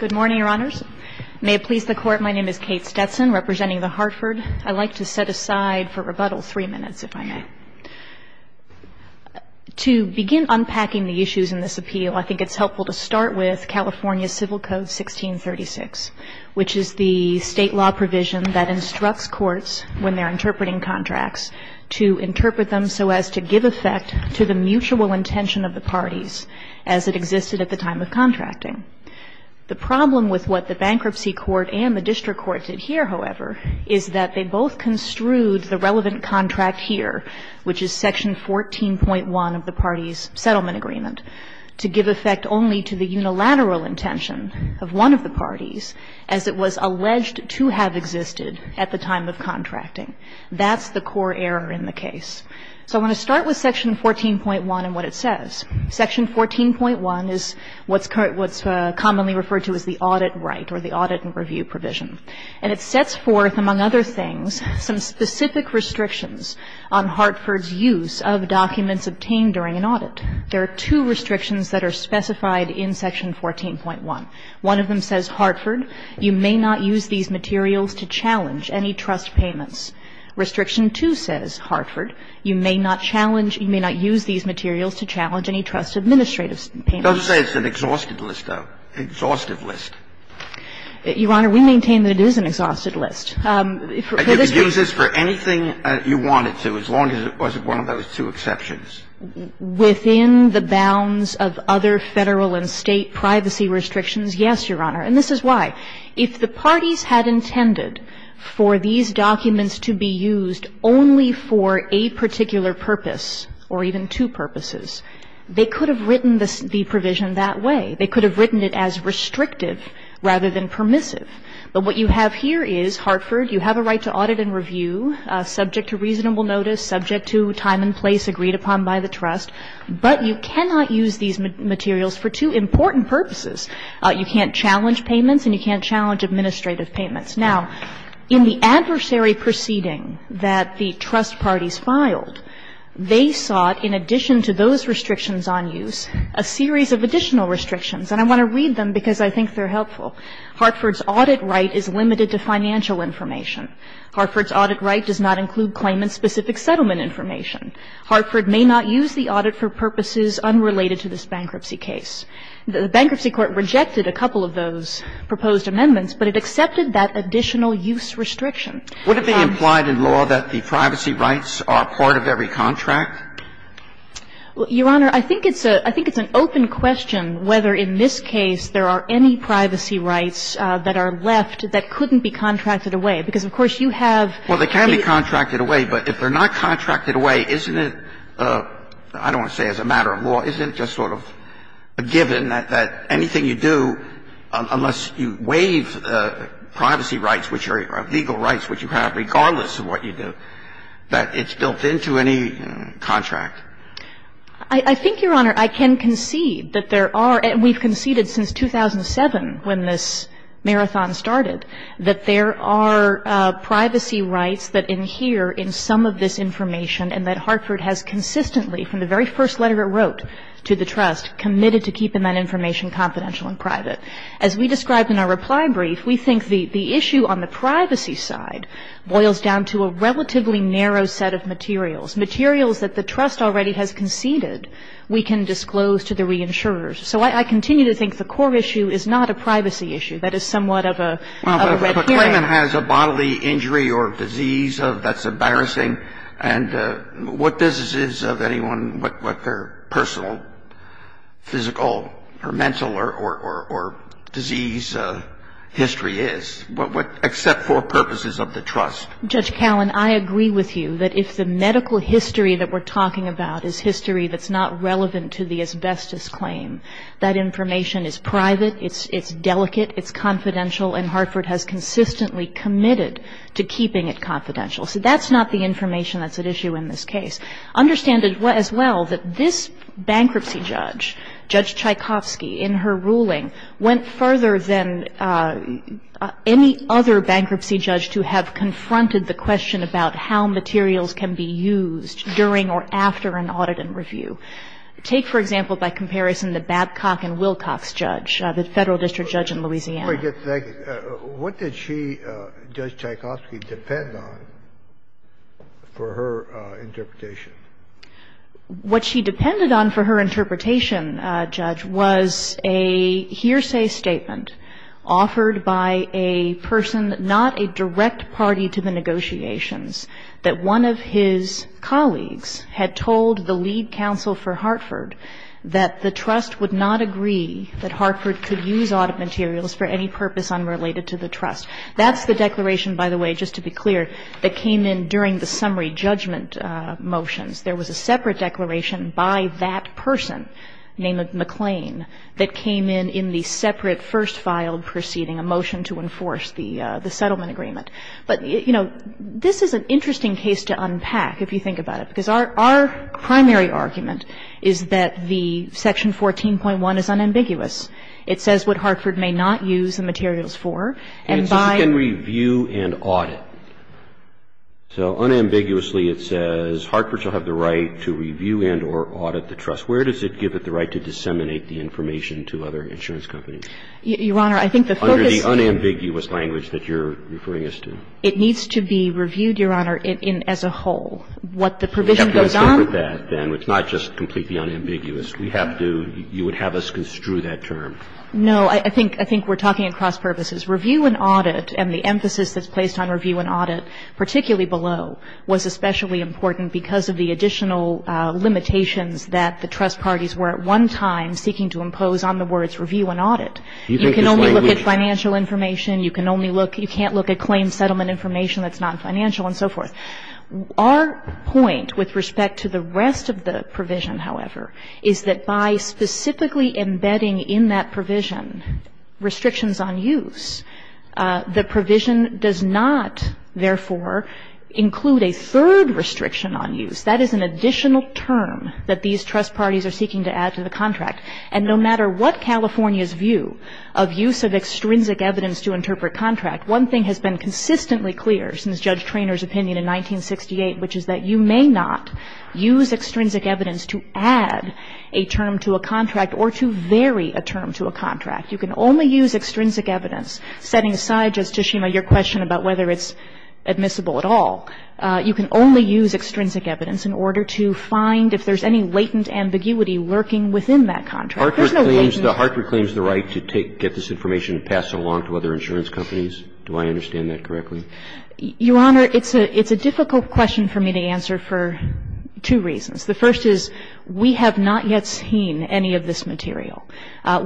Good morning, Your Honors. May it please the Court, my name is Kate Stetson, representing the Hartford. I'd like to set aside for rebuttal three minutes, if I may. To begin unpacking the issues in this appeal, I think it's helpful to start with California Civil Code 1636, which is the state law provision that instructs courts, when they're interpreting contracts, to interpret them so as to give effect to the mutual intention of the parties as it existed at the time of contracting. The problem with what the Bankruptcy Court and the District Court did here, however, is that they both construed the relevant contract here, which is Section 14.1 of the parties' settlement agreement, to give effect only to the unilateral intention of one of the parties, as it was alleged to have existed at the time of contracting. That's the core error in the case. So I want to start with Section 14.1 and what it says. Section 14.1 is what's commonly referred to as the audit right, or the audit and review provision. And it sets forth, among other things, some specific restrictions on Hartford's use of documents obtained during an audit. There are two restrictions that are specified in Section 14.1. One of them says, Hartford, you may not use these materials to challenge any trust payments. Restriction 2 says, Hartford, you may not challenge – you may not use these materials to challenge any trust administrative payments. Don't say it's an exhausted list, though. Exhaustive list. Your Honor, we maintain that it is an exhausted list. You could use this for anything you wanted to, as long as it wasn't one of those two exceptions. Within the bounds of other Federal and State privacy restrictions, yes, Your Honor, and this is why. If the parties had intended for these documents to be used only for a particular purpose or even two purposes, they could have written the provision that way. They could have written it as restrictive rather than permissive. But what you have here is, Hartford, you have a right to audit and review subject to reasonable notice, subject to time and place agreed upon by the trust. But you cannot use these materials for two important purposes. You can't challenge payments and you can't challenge administrative payments. Now, in the adversary proceeding that the trust parties filed, they sought, in addition to those restrictions on use, a series of additional restrictions. And I want to read them because I think they're helpful. Hartford's audit right is limited to financial information. Hartford's audit right does not include claimant-specific settlement information. Hartford may not use the audit for purposes unrelated to this bankruptcy case. The bankruptcy court rejected a couple of those proposed amendments, but it accepted that additional use restriction. Would it be implied in law that the privacy rights are part of every contract? Your Honor, I think it's a – I think it's an open question whether in this case there are any privacy rights that are left that couldn't be contracted away. Because, of course, you have the – Well, they can be contracted away, but if they're not contracted away, isn't it – I don't want to say as a matter of law – isn't it just sort of a given that anything you do, unless you waive privacy rights, which are legal rights which you have regardless of what you do, that it's built into any contract? I think, Your Honor, I can concede that there are – and we've conceded since 2007 when this marathon started – that there are privacy rights that adhere in some of this information, and that Hartford has consistently, from the very first letter it wrote to the trust, committed to keeping that information confidential and private. As we described in our reply brief, we think the issue on the privacy side boils down to a relatively narrow set of materials, materials that the trust already has conceded we can disclose to the reinsurers. So I continue to think the core issue is not a privacy issue. That is somewhat of a red herring. If a claimant has a bodily injury or disease that's embarrassing, and what business is of anyone what their personal, physical or mental or disease history is, except for purposes of the trust? Judge Callan, I agree with you that if the medical history that we're talking about is history that's not relevant to the asbestos claim, that information is private, it's delicate, it's confidential, and Hartford has consistently committed to keeping it confidential. So that's not the information that's at issue in this case. Understand as well that this bankruptcy judge, Judge Tchaikovsky, in her ruling, went further than any other bankruptcy judge to have confronted the question about how materials can be used during or after an audit and review. Take, for example, by comparison, the Babcock and Wilcox judge, the Federal District Judge in Louisiana. Scalia, what did she, Judge Tchaikovsky, depend on for her interpretation? What she depended on for her interpretation, Judge, was a hearsay statement offered by a person, not a direct party to the negotiations, that one of his colleagues had told the lead counsel for Hartford that the trust would not agree that Hartford could use audit materials for any purpose unrelated to the trust. That's the declaration, by the way, just to be clear, that came in during the summary judgment motions. There was a separate declaration by that person, named McClain, that came in in the separate first filed proceeding, a motion to enforce the settlement agreement. But, you know, this is an interesting case to unpack, if you think about it. Because our primary argument is that the section 14.1 is unambiguous. It says what Hartford may not use the materials for, and by the way, it's not just an audit. So unambiguously, it says Hartford shall have the right to review and or audit the trust. Where does it give it the right to disseminate the information to other insurance companies? Your Honor, I think the focus is under the unambiguous language that you're referring us to. It needs to be reviewed, Your Honor, in as a whole. What the provision goes on. It's not just completely unambiguous. We have to, you would have us construe that term. No. I think we're talking across purposes. Review and audit, and the emphasis that's placed on review and audit, particularly below, was especially important because of the additional limitations that the trust parties were at one time seeking to impose on the words review and audit. You can only look at financial information. You can only look, you can't look at claim settlement information that's non-financial and so forth. Our point with respect to the rest of the provision, however, is that by specifically embedding in that provision restrictions on use, the provision does not, therefore, include a third restriction on use. That is an additional term that these trust parties are seeking to add to the contract. And no matter what California's view of use of extrinsic evidence to interpret contract, one thing has been consistently clear since Judge Treanor's opinion in 1968, which is that you may not use extrinsic evidence to add a term to a contract or to vary a term to a contract. You can only use extrinsic evidence, setting aside, Justice Schema, your question about whether it's admissible at all. You can only use extrinsic evidence in order to find if there's any latent ambiguity lurking within that contract. There's no latent ambiguity. Roberts. Roberts. The Hartford claims the right to take, get this information and pass it along to other insurance companies? Do I understand that correctly? Your Honor, it's a difficult question for me to answer for two reasons. The first is we have not yet seen any of this material.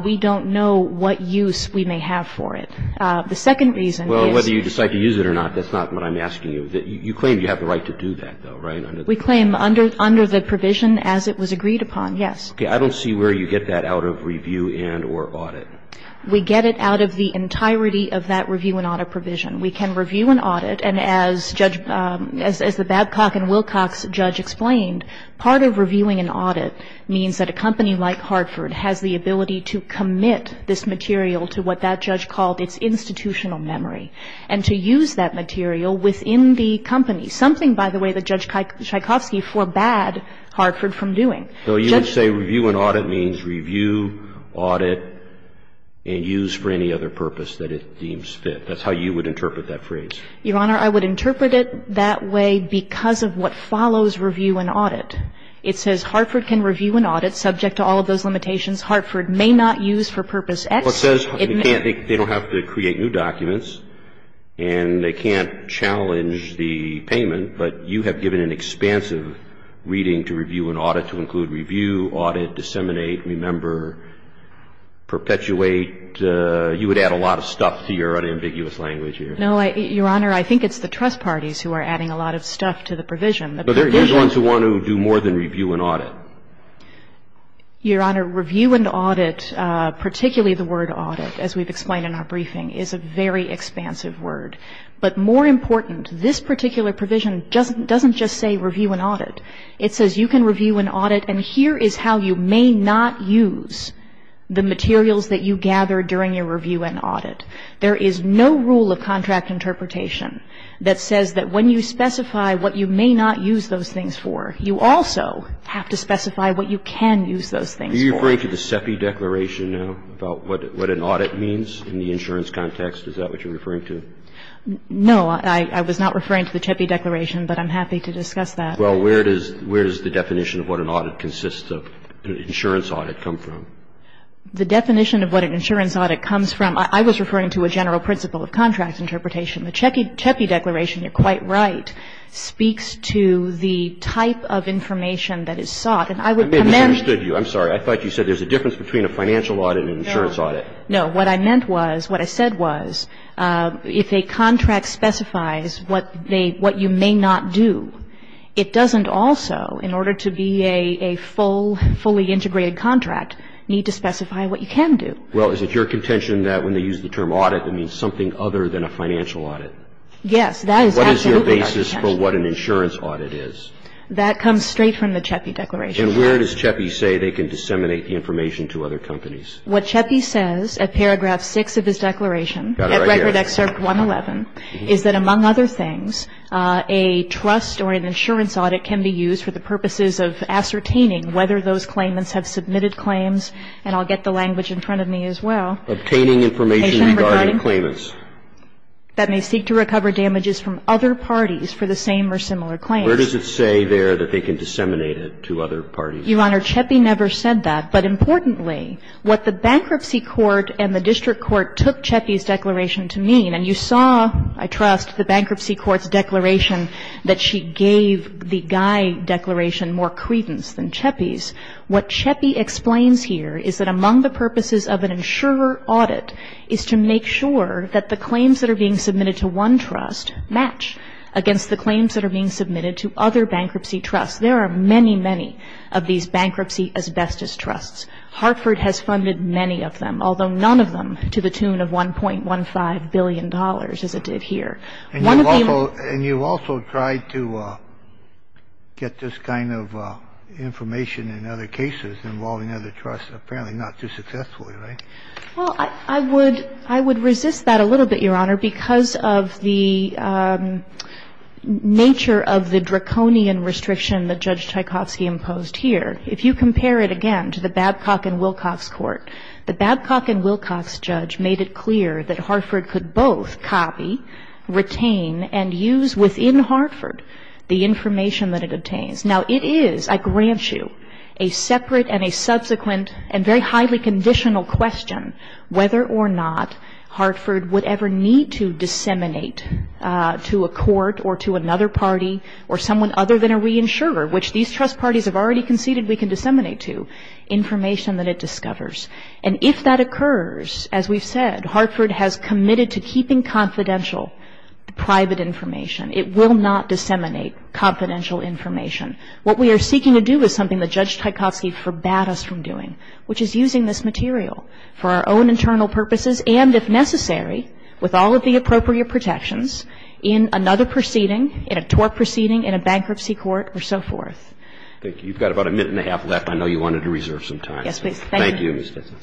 We don't know what use we may have for it. The second reason is. Well, whether you decide to use it or not, that's not what I'm asking you. You claim you have the right to do that, though, right? We claim under the provision as it was agreed upon, yes. Okay. I don't see where you get that out of review and or audit. We get it out of the entirety of that review and audit provision. We can review and audit, and as Judge – as the Babcock and Wilcox judge explained, part of reviewing and audit means that a company like Hartford has the ability to commit this material to what that judge called its institutional memory and to use that material within the company, something, by the way, that Judge Tchaikovsky forbade Hartford from doing. So you would say review and audit means review, audit, and use for any other purpose that it deems fit. That's how you would interpret that phrase. Your Honor, I would interpret it that way because of what follows review and audit. It says Hartford can review and audit subject to all of those limitations. Hartford may not use for purpose X. Well, it says they don't have to create new documents and they can't challenge the payment, but you have given an expansive reading to review and audit to include review, audit, disseminate, remember, perpetuate. You would add a lot of stuff to your unambiguous language here. No, Your Honor. I think it's the trust parties who are adding a lot of stuff to the provision. But there are those ones who want to do more than review and audit. Your Honor, review and audit, particularly the word audit, as we've explained in our briefing, is a very expansive word. But more important, this particular provision doesn't just say review and audit. It says you can review and audit, and here is how you may not use the materials that you gather during your review and audit. There is no rule of contract interpretation that says that when you specify what you may not use those things for, you also have to specify what you can use those things for. Are you referring to the CEPI declaration now about what an audit means in the insurance context? Is that what you're referring to? No. I was not referring to the CEPI declaration, but I'm happy to discuss that. Well, where does the definition of what an audit consists of, an insurance audit, come from? The definition of what an insurance audit comes from, I was referring to a general principle of contract interpretation. The CEPI declaration, you're quite right, speaks to the type of information that is sought. And I would commend you. I misunderstood you. I'm sorry. I thought you said there's a difference between a financial audit and an insurance audit. No. What I meant was, what I said was, if a contract specifies what you may not do, it doesn't also, in order to be a full, fully integrated contract, need to specify what you can do. Well, is it your contention that when they use the term audit, it means something other than a financial audit? Yes. That is absolutely my contention. What is your basis for what an insurance audit is? That comes straight from the CEPI declaration. And where does CEPI say they can disseminate the information to other companies? What CEPI says at paragraph 6 of his declaration, at Record Excerpt 111, is that, among other things, a trust or an insurance audit can be used for the purposes of ascertaining whether those claimants have submitted claims. And I'll get the language in front of me as well. Obtaining information regarding claimants. That may seek to recover damages from other parties for the same or similar claims. Where does it say there that they can disseminate it to other parties? Your Honor, CEPI never said that. But importantly, what the bankruptcy court and the district court took CEPI's declaration to mean. And you saw, I trust, the bankruptcy court's declaration that she gave the Guy declaration more credence than CEPI's. What CEPI explains here is that among the purposes of an insurer audit is to make sure that the claims that are being submitted to one trust match against the claims that are being submitted to other bankruptcy trusts. There are many, many of these bankruptcy asbestos trusts. Hartford has funded many of them, although none of them to the tune of $1.15 billion as it did here. One of the amounts. And you also tried to get this kind of information in other cases involving other trusts, apparently not too successfully, right? Well, I would resist that a little bit, Your Honor, because of the nature of the draconian restriction that Judge Tchaikovsky imposed here. If you compare it again to the Babcock and Wilcox court, the Babcock and Wilcox judge made it clear that Hartford could both copy, retain, and use within Hartford the information that it obtains. Now, it is, I grant you, a separate and a subsequent and very highly conditional question whether or not Hartford would ever need to disseminate to a court or to another information that it discovers. And if that occurs, as we've said, Hartford has committed to keeping confidential private information. It will not disseminate confidential information. What we are seeking to do is something that Judge Tchaikovsky forbade us from doing, which is using this material for our own internal purposes and, if necessary, with all of the appropriate protections in another proceeding, in a tort proceeding, in a bankruptcy court, or so forth. Thank you. You've got about a minute and a half left. I know you wanted to reserve some time. Yes, please. Thank you. Thank you.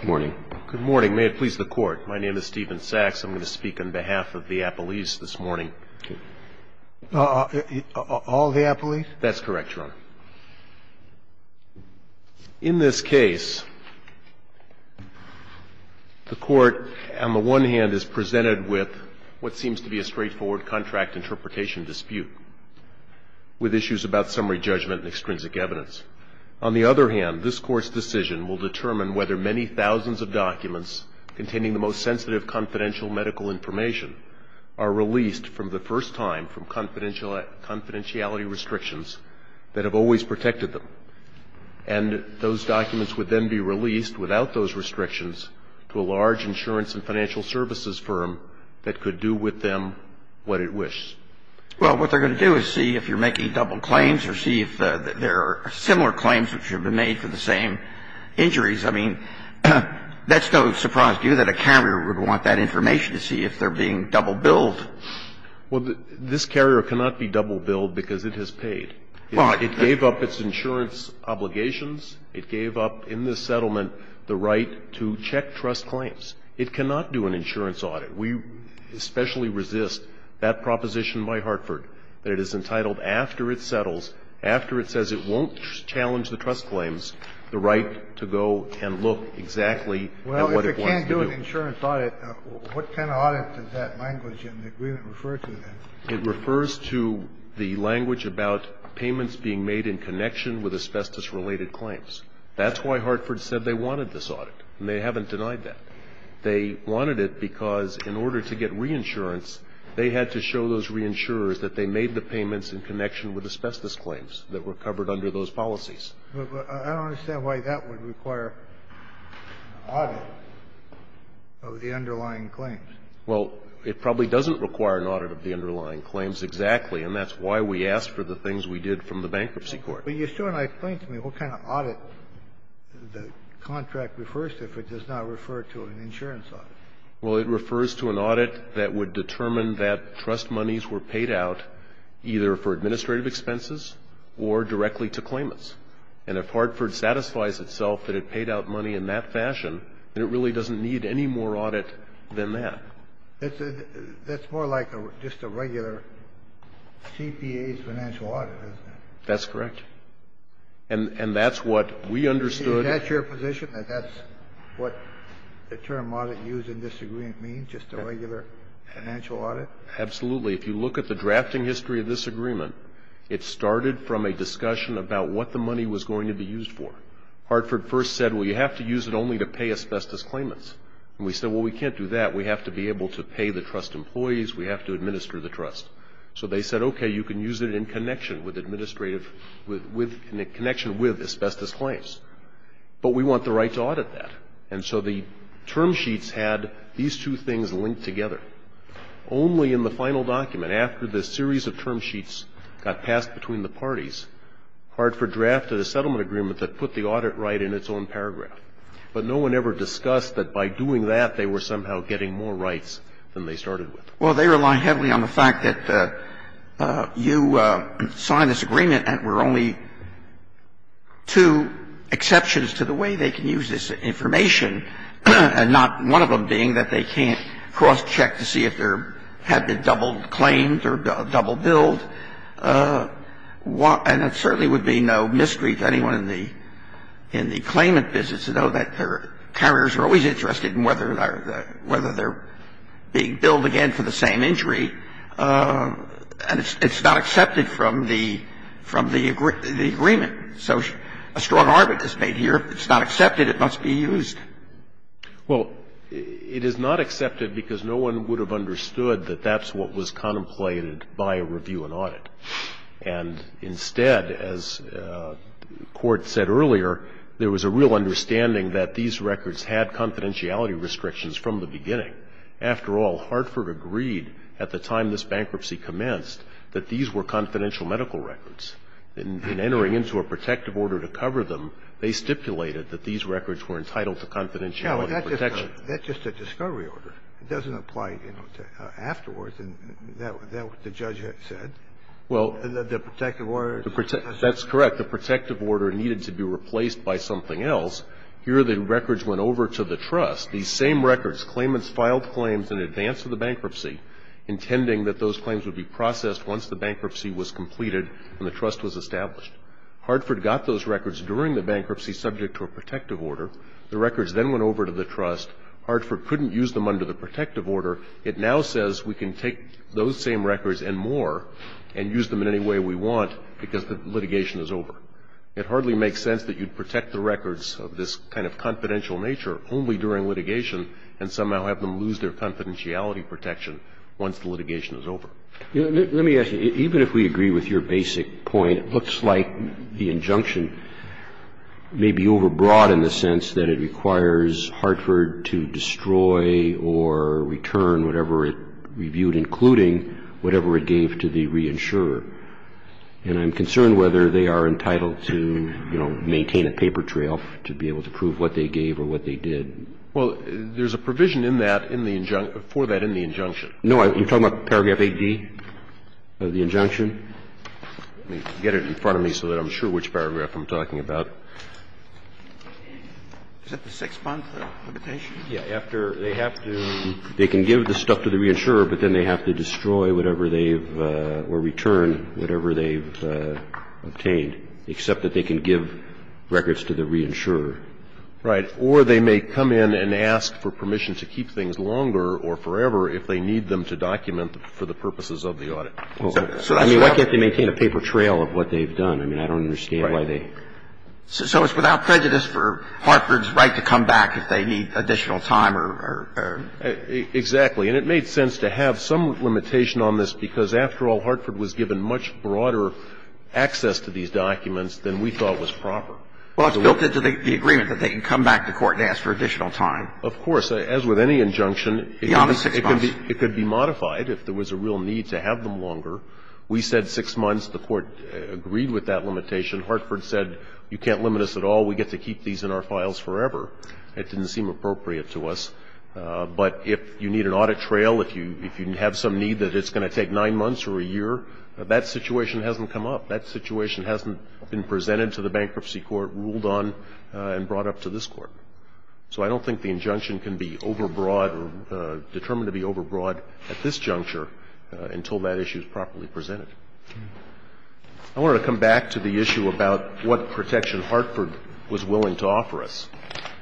Good morning. Good morning. May it please the Court. My name is Stephen Sachs. I'm going to speak on behalf of the appellees this morning. All the appellees? That's correct, Your Honor. In this case, the Court, on the one hand, is presented with what seems to be a straightforward contract interpretation dispute with issues about summary judgment and extrinsic evidence. On the other hand, this Court's decision will determine whether many thousands of documents containing the most sensitive confidential medical information are released for the first time from confidentiality restrictions that have always protected them. And those documents would then be released without those restrictions to a large insurance and financial services firm that could do with them what it wishes. Well, what they're going to do is see if you're making double claims or see if there are similar claims which have been made for the same injuries. I mean, that's no surprise to you that a carrier would want that information to see if they're being double billed. Well, this carrier cannot be double billed because it has paid. It gave up its insurance obligations. It gave up in this settlement the right to check trust claims. It cannot do an insurance audit. We especially resist that proposition by Hartford, that it is entitled after it settles, after it says it won't challenge the trust claims, the right to go and look exactly at what it wants to do. Well, if it can't do an insurance audit, what kind of audit does that language in the agreement refer to then? It refers to the language about payments being made in connection with asbestos-related claims. That's why Hartford said they wanted this audit, and they haven't denied that. They wanted it because in order to get reinsurance, they had to show those reinsurers that they made the payments in connection with asbestos claims that were covered under those policies. But I don't understand why that would require an audit of the underlying claims. Well, it probably doesn't require an audit of the underlying claims exactly, and that's why we asked for the things we did from the bankruptcy court. But you still haven't explained to me what kind of audit the contract refers to if it does not refer to an insurance audit. Well, it refers to an audit that would determine that trust monies were paid out either for administrative expenses or directly to claimants. And if Hartford satisfies itself that it paid out money in that fashion, then it really doesn't need any more audit than that. That's more like just a regular CPA's financial audit, isn't it? That's correct. And that's what we understood. Is that your position, that that's what the term audit used in this agreement means, just a regular financial audit? Absolutely. If you look at the drafting history of this agreement, it started from a discussion about what the money was going to be used for. Hartford first said, well, you have to use it only to pay asbestos claimants. And we said, well, we can't do that. We have to be able to pay the trust employees. We have to administer the trust. So they said, okay, you can use it in connection with administrative connection with asbestos claims. But we want the right to audit that. And so the term sheets had these two things linked together. Only in the final document, after the series of term sheets got passed between the parties, Hartford drafted a settlement agreement that put the audit right in its own paragraph. But no one ever discussed that by doing that, they were somehow getting more rights than they started with. Well, they rely heavily on the fact that you signed this agreement and were only two exceptions to the way they can use this information, and not one of them being that they can't cross-check to see if there had been double claimed or double billed. And it certainly would be no mystery to anyone in the claimant business to know that carriers are always interested in whether they're being billed again for the same injury, and it's not accepted from the agreement. So a strong argument is made here, if it's not accepted, it must be used. Well, it is not accepted because no one would have understood that that's what was contemplated by a review and audit. And instead, as the Court said earlier, there was a real understanding that these records had confidentiality restrictions from the beginning. After all, Hartford agreed at the time this bankruptcy commenced that these were confidential medical records. In entering into a protective order to cover them, they stipulated that these records were entitled to confidentiality protection. Yeah, but that's just a discovery order. It doesn't apply, you know, to afterwards. And that's what the judge said. Well. The protective order. That's correct. The protective order needed to be replaced by something else. Here the records went over to the trust. These same records, claimants filed claims in advance of the bankruptcy, intending that those claims would be processed once the bankruptcy was completed and the trust was established. Hartford got those records during the bankruptcy subject to a protective order. The records then went over to the trust. Hartford couldn't use them under the protective order. It now says we can take those same records and more and use them in any way we want because the litigation is over. It hardly makes sense that you'd protect the records of this kind of confidential nature only during litigation and somehow have them lose their confidentiality protection once the litigation is over. Let me ask you. Even if we agree with your basic point, it looks like the injunction may be overbroad in the sense that it requires Hartford to destroy or return whatever it reviewed, including whatever it gave to the reinsurer. And I'm concerned whether they are entitled to, you know, maintain a paper trail to be able to prove what they gave or what they did. Well, there's a provision in that in the injunction, for that in the injunction. No. You're talking about paragraph 8D of the injunction? Let me get it in front of me so that I'm sure which paragraph I'm talking about. Is that the six-month limitation? Yeah. After they have to they can give the stuff to the reinsurer, but then they have to destroy whatever they've or return whatever they've obtained, except that they can give records to the reinsurer. Right. Or they may come in and ask for permission to keep things longer or forever if they need them to document for the purposes of the audit. I mean, why can't they maintain a paper trail of what they've done? I mean, I don't understand why they... Right. So it's without prejudice for Hartford's right to come back if they need additional time or... Exactly. And it made sense to have some limitation on this because, after all, Hartford was given much broader access to these documents than we thought was proper. Well, it's built into the agreement that they can come back to court and ask for additional time. Of course. As with any injunction... Beyond the six months. ...it could be modified if there was a real need to have them longer. We said six months. The Court agreed with that limitation. Hartford said you can't limit us at all. We get to keep these in our files forever. It didn't seem appropriate to us. But if you need an audit trail, if you have some need that it's going to take nine months or a year, that situation hasn't come up. That situation hasn't been presented to the Bankruptcy Court, ruled on, and brought up to this Court. So I don't think the injunction can be overbroad or determined to be overbroad at this juncture until that issue is properly presented. I want to come back to the issue about what protection Hartford was willing to offer us.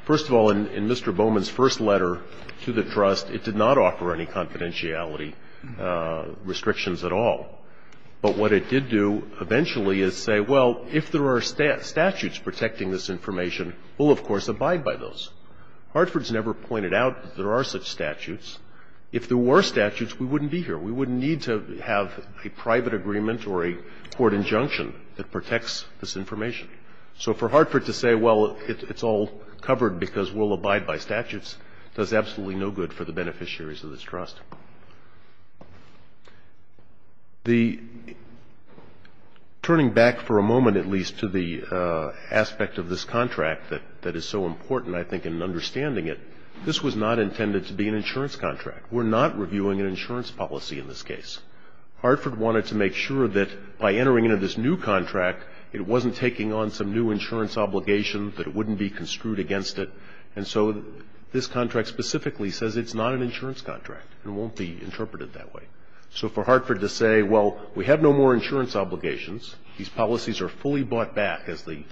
First of all, in Mr. Bowman's first letter to the trust, it did not offer any confidentiality restrictions at all. But what it did do eventually is say, well, if there are statutes protecting this information, we'll, of course, abide by those. Hartford's never pointed out that there are such statutes. If there were statutes, we wouldn't be here. We wouldn't need to have a private agreement or a court injunction that protects this information. So for Hartford to say, well, it's all covered because we'll abide by statutes, does absolutely no good for the beneficiaries of this trust. Turning back for a moment, at least, to the aspect of this contract that is so important, I think, in understanding it, this was not intended to be an insurance contract. We're not reviewing an insurance policy in this case. Hartford wanted to make sure that by entering into this new contract, it wasn't taking on some new insurance obligation, that it wouldn't be construed against it. And so this contract specifically says it's not an insurance contract. It won't be interpreted that way. So for Hartford to say, well, we have no more insurance obligations, these policies are fully bought back, as the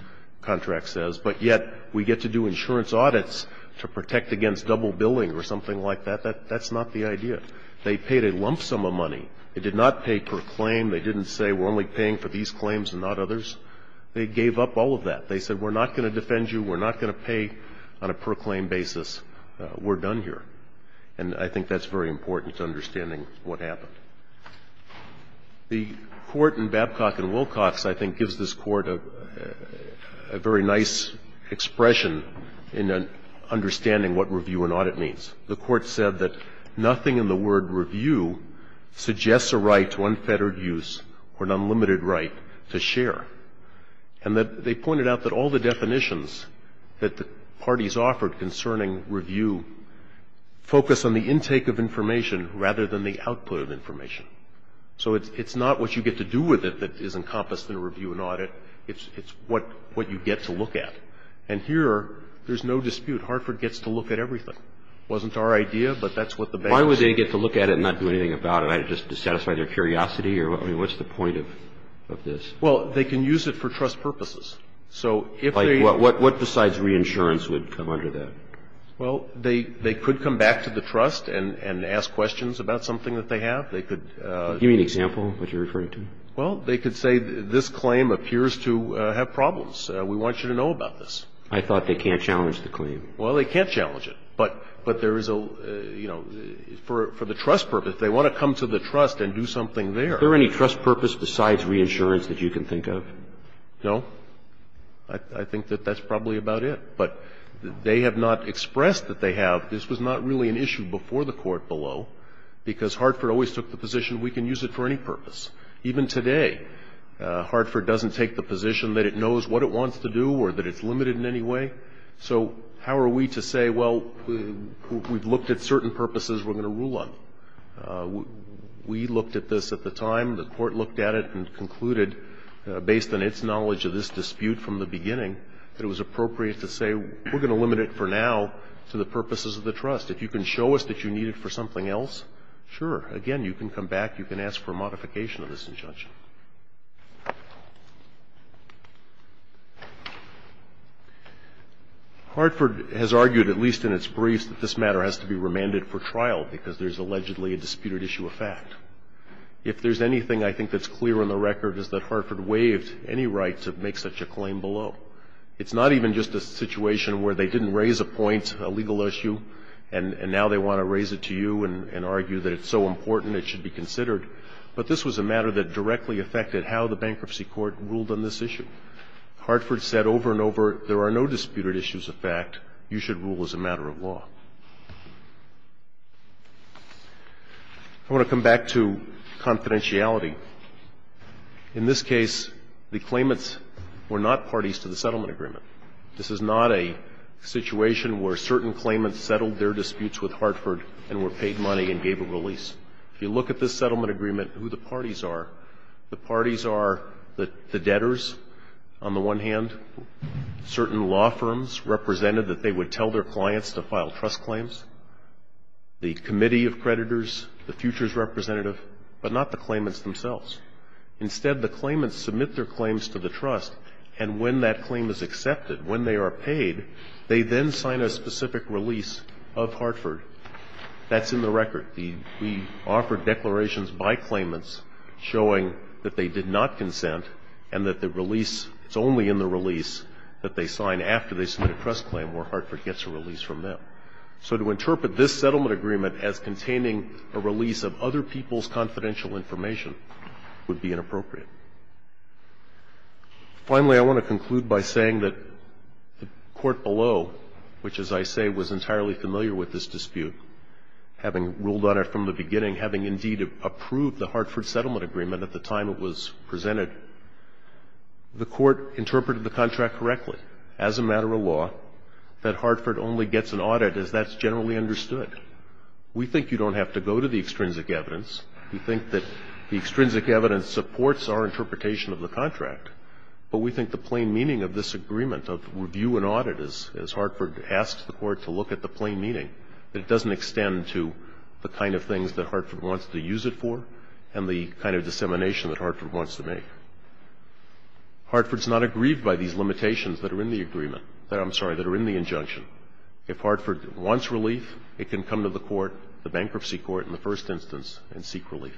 contract says, but yet we get to do insurance audits to protect against double billing or something like that, that's not the idea. They paid a lump sum of money. It did not pay per claim. They didn't say we're only paying for these claims and not others. They gave up all of that. They said we're not going to defend you. We're not going to pay on a per claim basis. We're done here. And I think that's very important to understanding what happened. The Court in Babcock and Wilcox, I think, gives this Court a very nice expression in understanding what review and audit means. The Court said that nothing in the word review suggests a right to unfettered use or an unlimited right to share, and that they pointed out that all the definitions that the parties offered concerning review focus on the intake of information rather than the output of information. So it's not what you get to do with it that is encompassed in a review and audit. It's what you get to look at. And here, there's no dispute. Hartford gets to look at everything. It wasn't our idea, but that's what the bank said. I mean, they get to look at it and not do anything about it. I just satisfy their curiosity? I mean, what's the point of this? Well, they can use it for trust purposes. So if they – Like what besides reinsurance would come under that? Well, they could come back to the trust and ask questions about something that they have. They could – Give me an example of what you're referring to. Well, they could say this claim appears to have problems. We want you to know about this. I thought they can't challenge the claim. Well, they can't challenge it. But there is a – you know, for the trust purpose, they want to come to the trust and do something there. Is there any trust purpose besides reinsurance that you can think of? No. I think that that's probably about it. But they have not expressed that they have. This was not really an issue before the court below, because Hartford always took the position we can use it for any purpose. Even today, Hartford doesn't take the position that it knows what it wants to do or that it's limited in any way. So how are we to say, well, we've looked at certain purposes we're going to rule on? We looked at this at the time. The court looked at it and concluded, based on its knowledge of this dispute from the beginning, that it was appropriate to say we're going to limit it for now to the purposes of the trust. If you can show us that you need it for something else, sure. Again, you can come back. You can ask for a modification of this injunction. Hartford has argued, at least in its briefs, that this matter has to be remanded for trial because there's allegedly a disputed issue of fact. If there's anything I think that's clear on the record is that Hartford waived any right to make such a claim below. It's not even just a situation where they didn't raise a point, a legal issue, and now they want to raise it to you and argue that it's so important it should be considered. But this was a matter that directly affected how the bankruptcy court ruled on this issue. Hartford said over and over, there are no disputed issues of fact. You should rule as a matter of law. I want to come back to confidentiality. In this case, the claimants were not parties to the settlement agreement. This is not a situation where certain claimants settled their disputes with Hartford and were paid money and gave a release. If you look at this settlement agreement, who the parties are, the parties are the debtors, on the one hand, certain law firms represented that they would tell their clients to file trust claims, the committee of creditors, the futures representative, but not the claimants themselves. Instead, the claimants submit their claims to the trust, and when that claim is accepted, when they are paid, they then sign a specific release of Hartford. That's in the record. We offered declarations by claimants showing that they did not consent and that the release, it's only in the release that they sign after they submit a trust claim where Hartford gets a release from them. So to interpret this settlement agreement as containing a release of other people's confidential information would be inappropriate. Finally, I want to conclude by saying that the court below, which, as I say, was entirely familiar with this dispute, having ruled on it from the beginning, having indeed approved the Hartford settlement agreement at the time it was presented, the court interpreted the contract correctly as a matter of law that Hartford only gets an audit as that's generally understood. We think you don't have to go to the extrinsic evidence. We think that the extrinsic evidence supports our interpretation of the contract, but we think the plain meaning of this agreement, of review and audit, as Hartford asks the court to look at the plain meaning, that it doesn't extend to the kind of things that Hartford wants to use it for and the kind of dissemination that Hartford wants to make. Hartford's not aggrieved by these limitations that are in the agreement. I'm sorry, that are in the injunction. If Hartford wants relief, it can come to the court, the bankruptcy court in the first instance, and seek relief.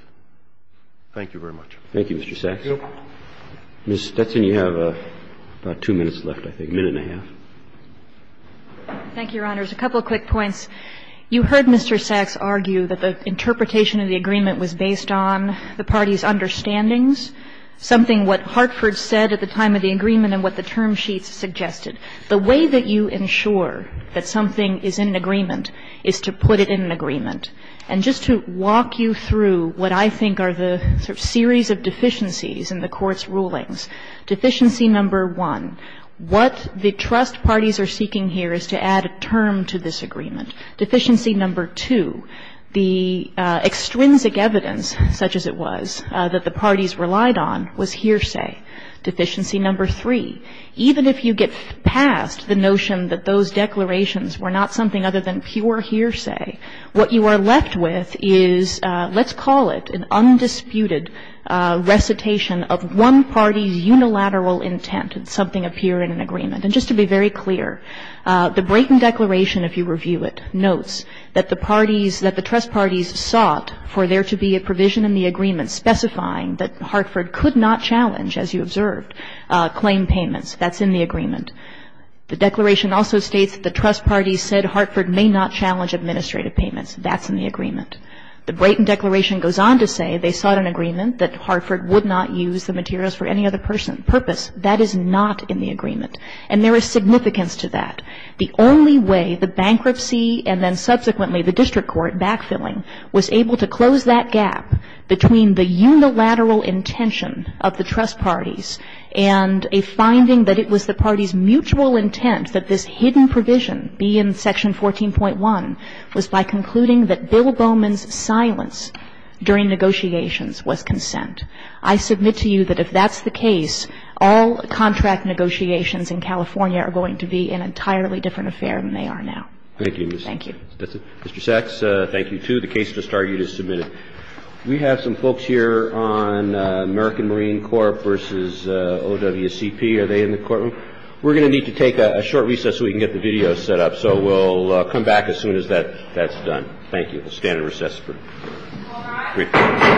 Thank you very much. Thank you, Mr. Sachs. Ms. Stetson, you have about two minutes left, I think. A minute and a half. Thank you, Your Honors. A couple of quick points. You heard Mr. Sachs argue that the interpretation of the agreement was based on the party's understandings, something what Hartford said at the time of the agreement and what the term sheets suggested. The way that you ensure that something is in agreement is to put it in an agreement. And just to walk you through what I think are the sort of series of deficiencies in the Court's rulings. Deficiency number one, what the trust parties are seeking here is to add a term to this agreement. Deficiency number two, the extrinsic evidence, such as it was, that the parties relied on was hearsay. Deficiency number three, even if you get past the notion that those declarations were not something other than pure hearsay, what you are left with is, let's call it an undisputed recitation of one party's unilateral intent that something appeared in an agreement. And just to be very clear, the Brayton Declaration, if you review it, notes that the parties, that the trust parties sought for there to be a provision in the agreement specifying that Hartford could not challenge, as you observed, claim payments. That's in the agreement. The declaration also states that the trust parties said Hartford may not challenge administrative payments. That's in the agreement. The Brayton Declaration goes on to say they sought an agreement that Hartford would not use the materials for any other purpose. That is not in the agreement. And there is significance to that. The only way the bankruptcy and then subsequently the district court backfilling was able to close that gap between the unilateral intention of the trust parties and a finding that it was the parties' mutual intent that this hidden provision, B in section 14.1, was by concluding that Bill Bowman's silence during negotiations was consent. I submit to you that if that's the case, all contract negotiations in California are going to be an entirely different affair than they are now. Thank you, Ms. Thank you. Mr. Sachs, thank you, too. The case just argued is submitted. We have some folks here on American Marine Corp versus OWCP. Are they in the courtroom? We're going to need to take a short recess so we can get the video set up. So we'll come back as soon as that's done. Thank you. We'll stand in recess for a brief moment.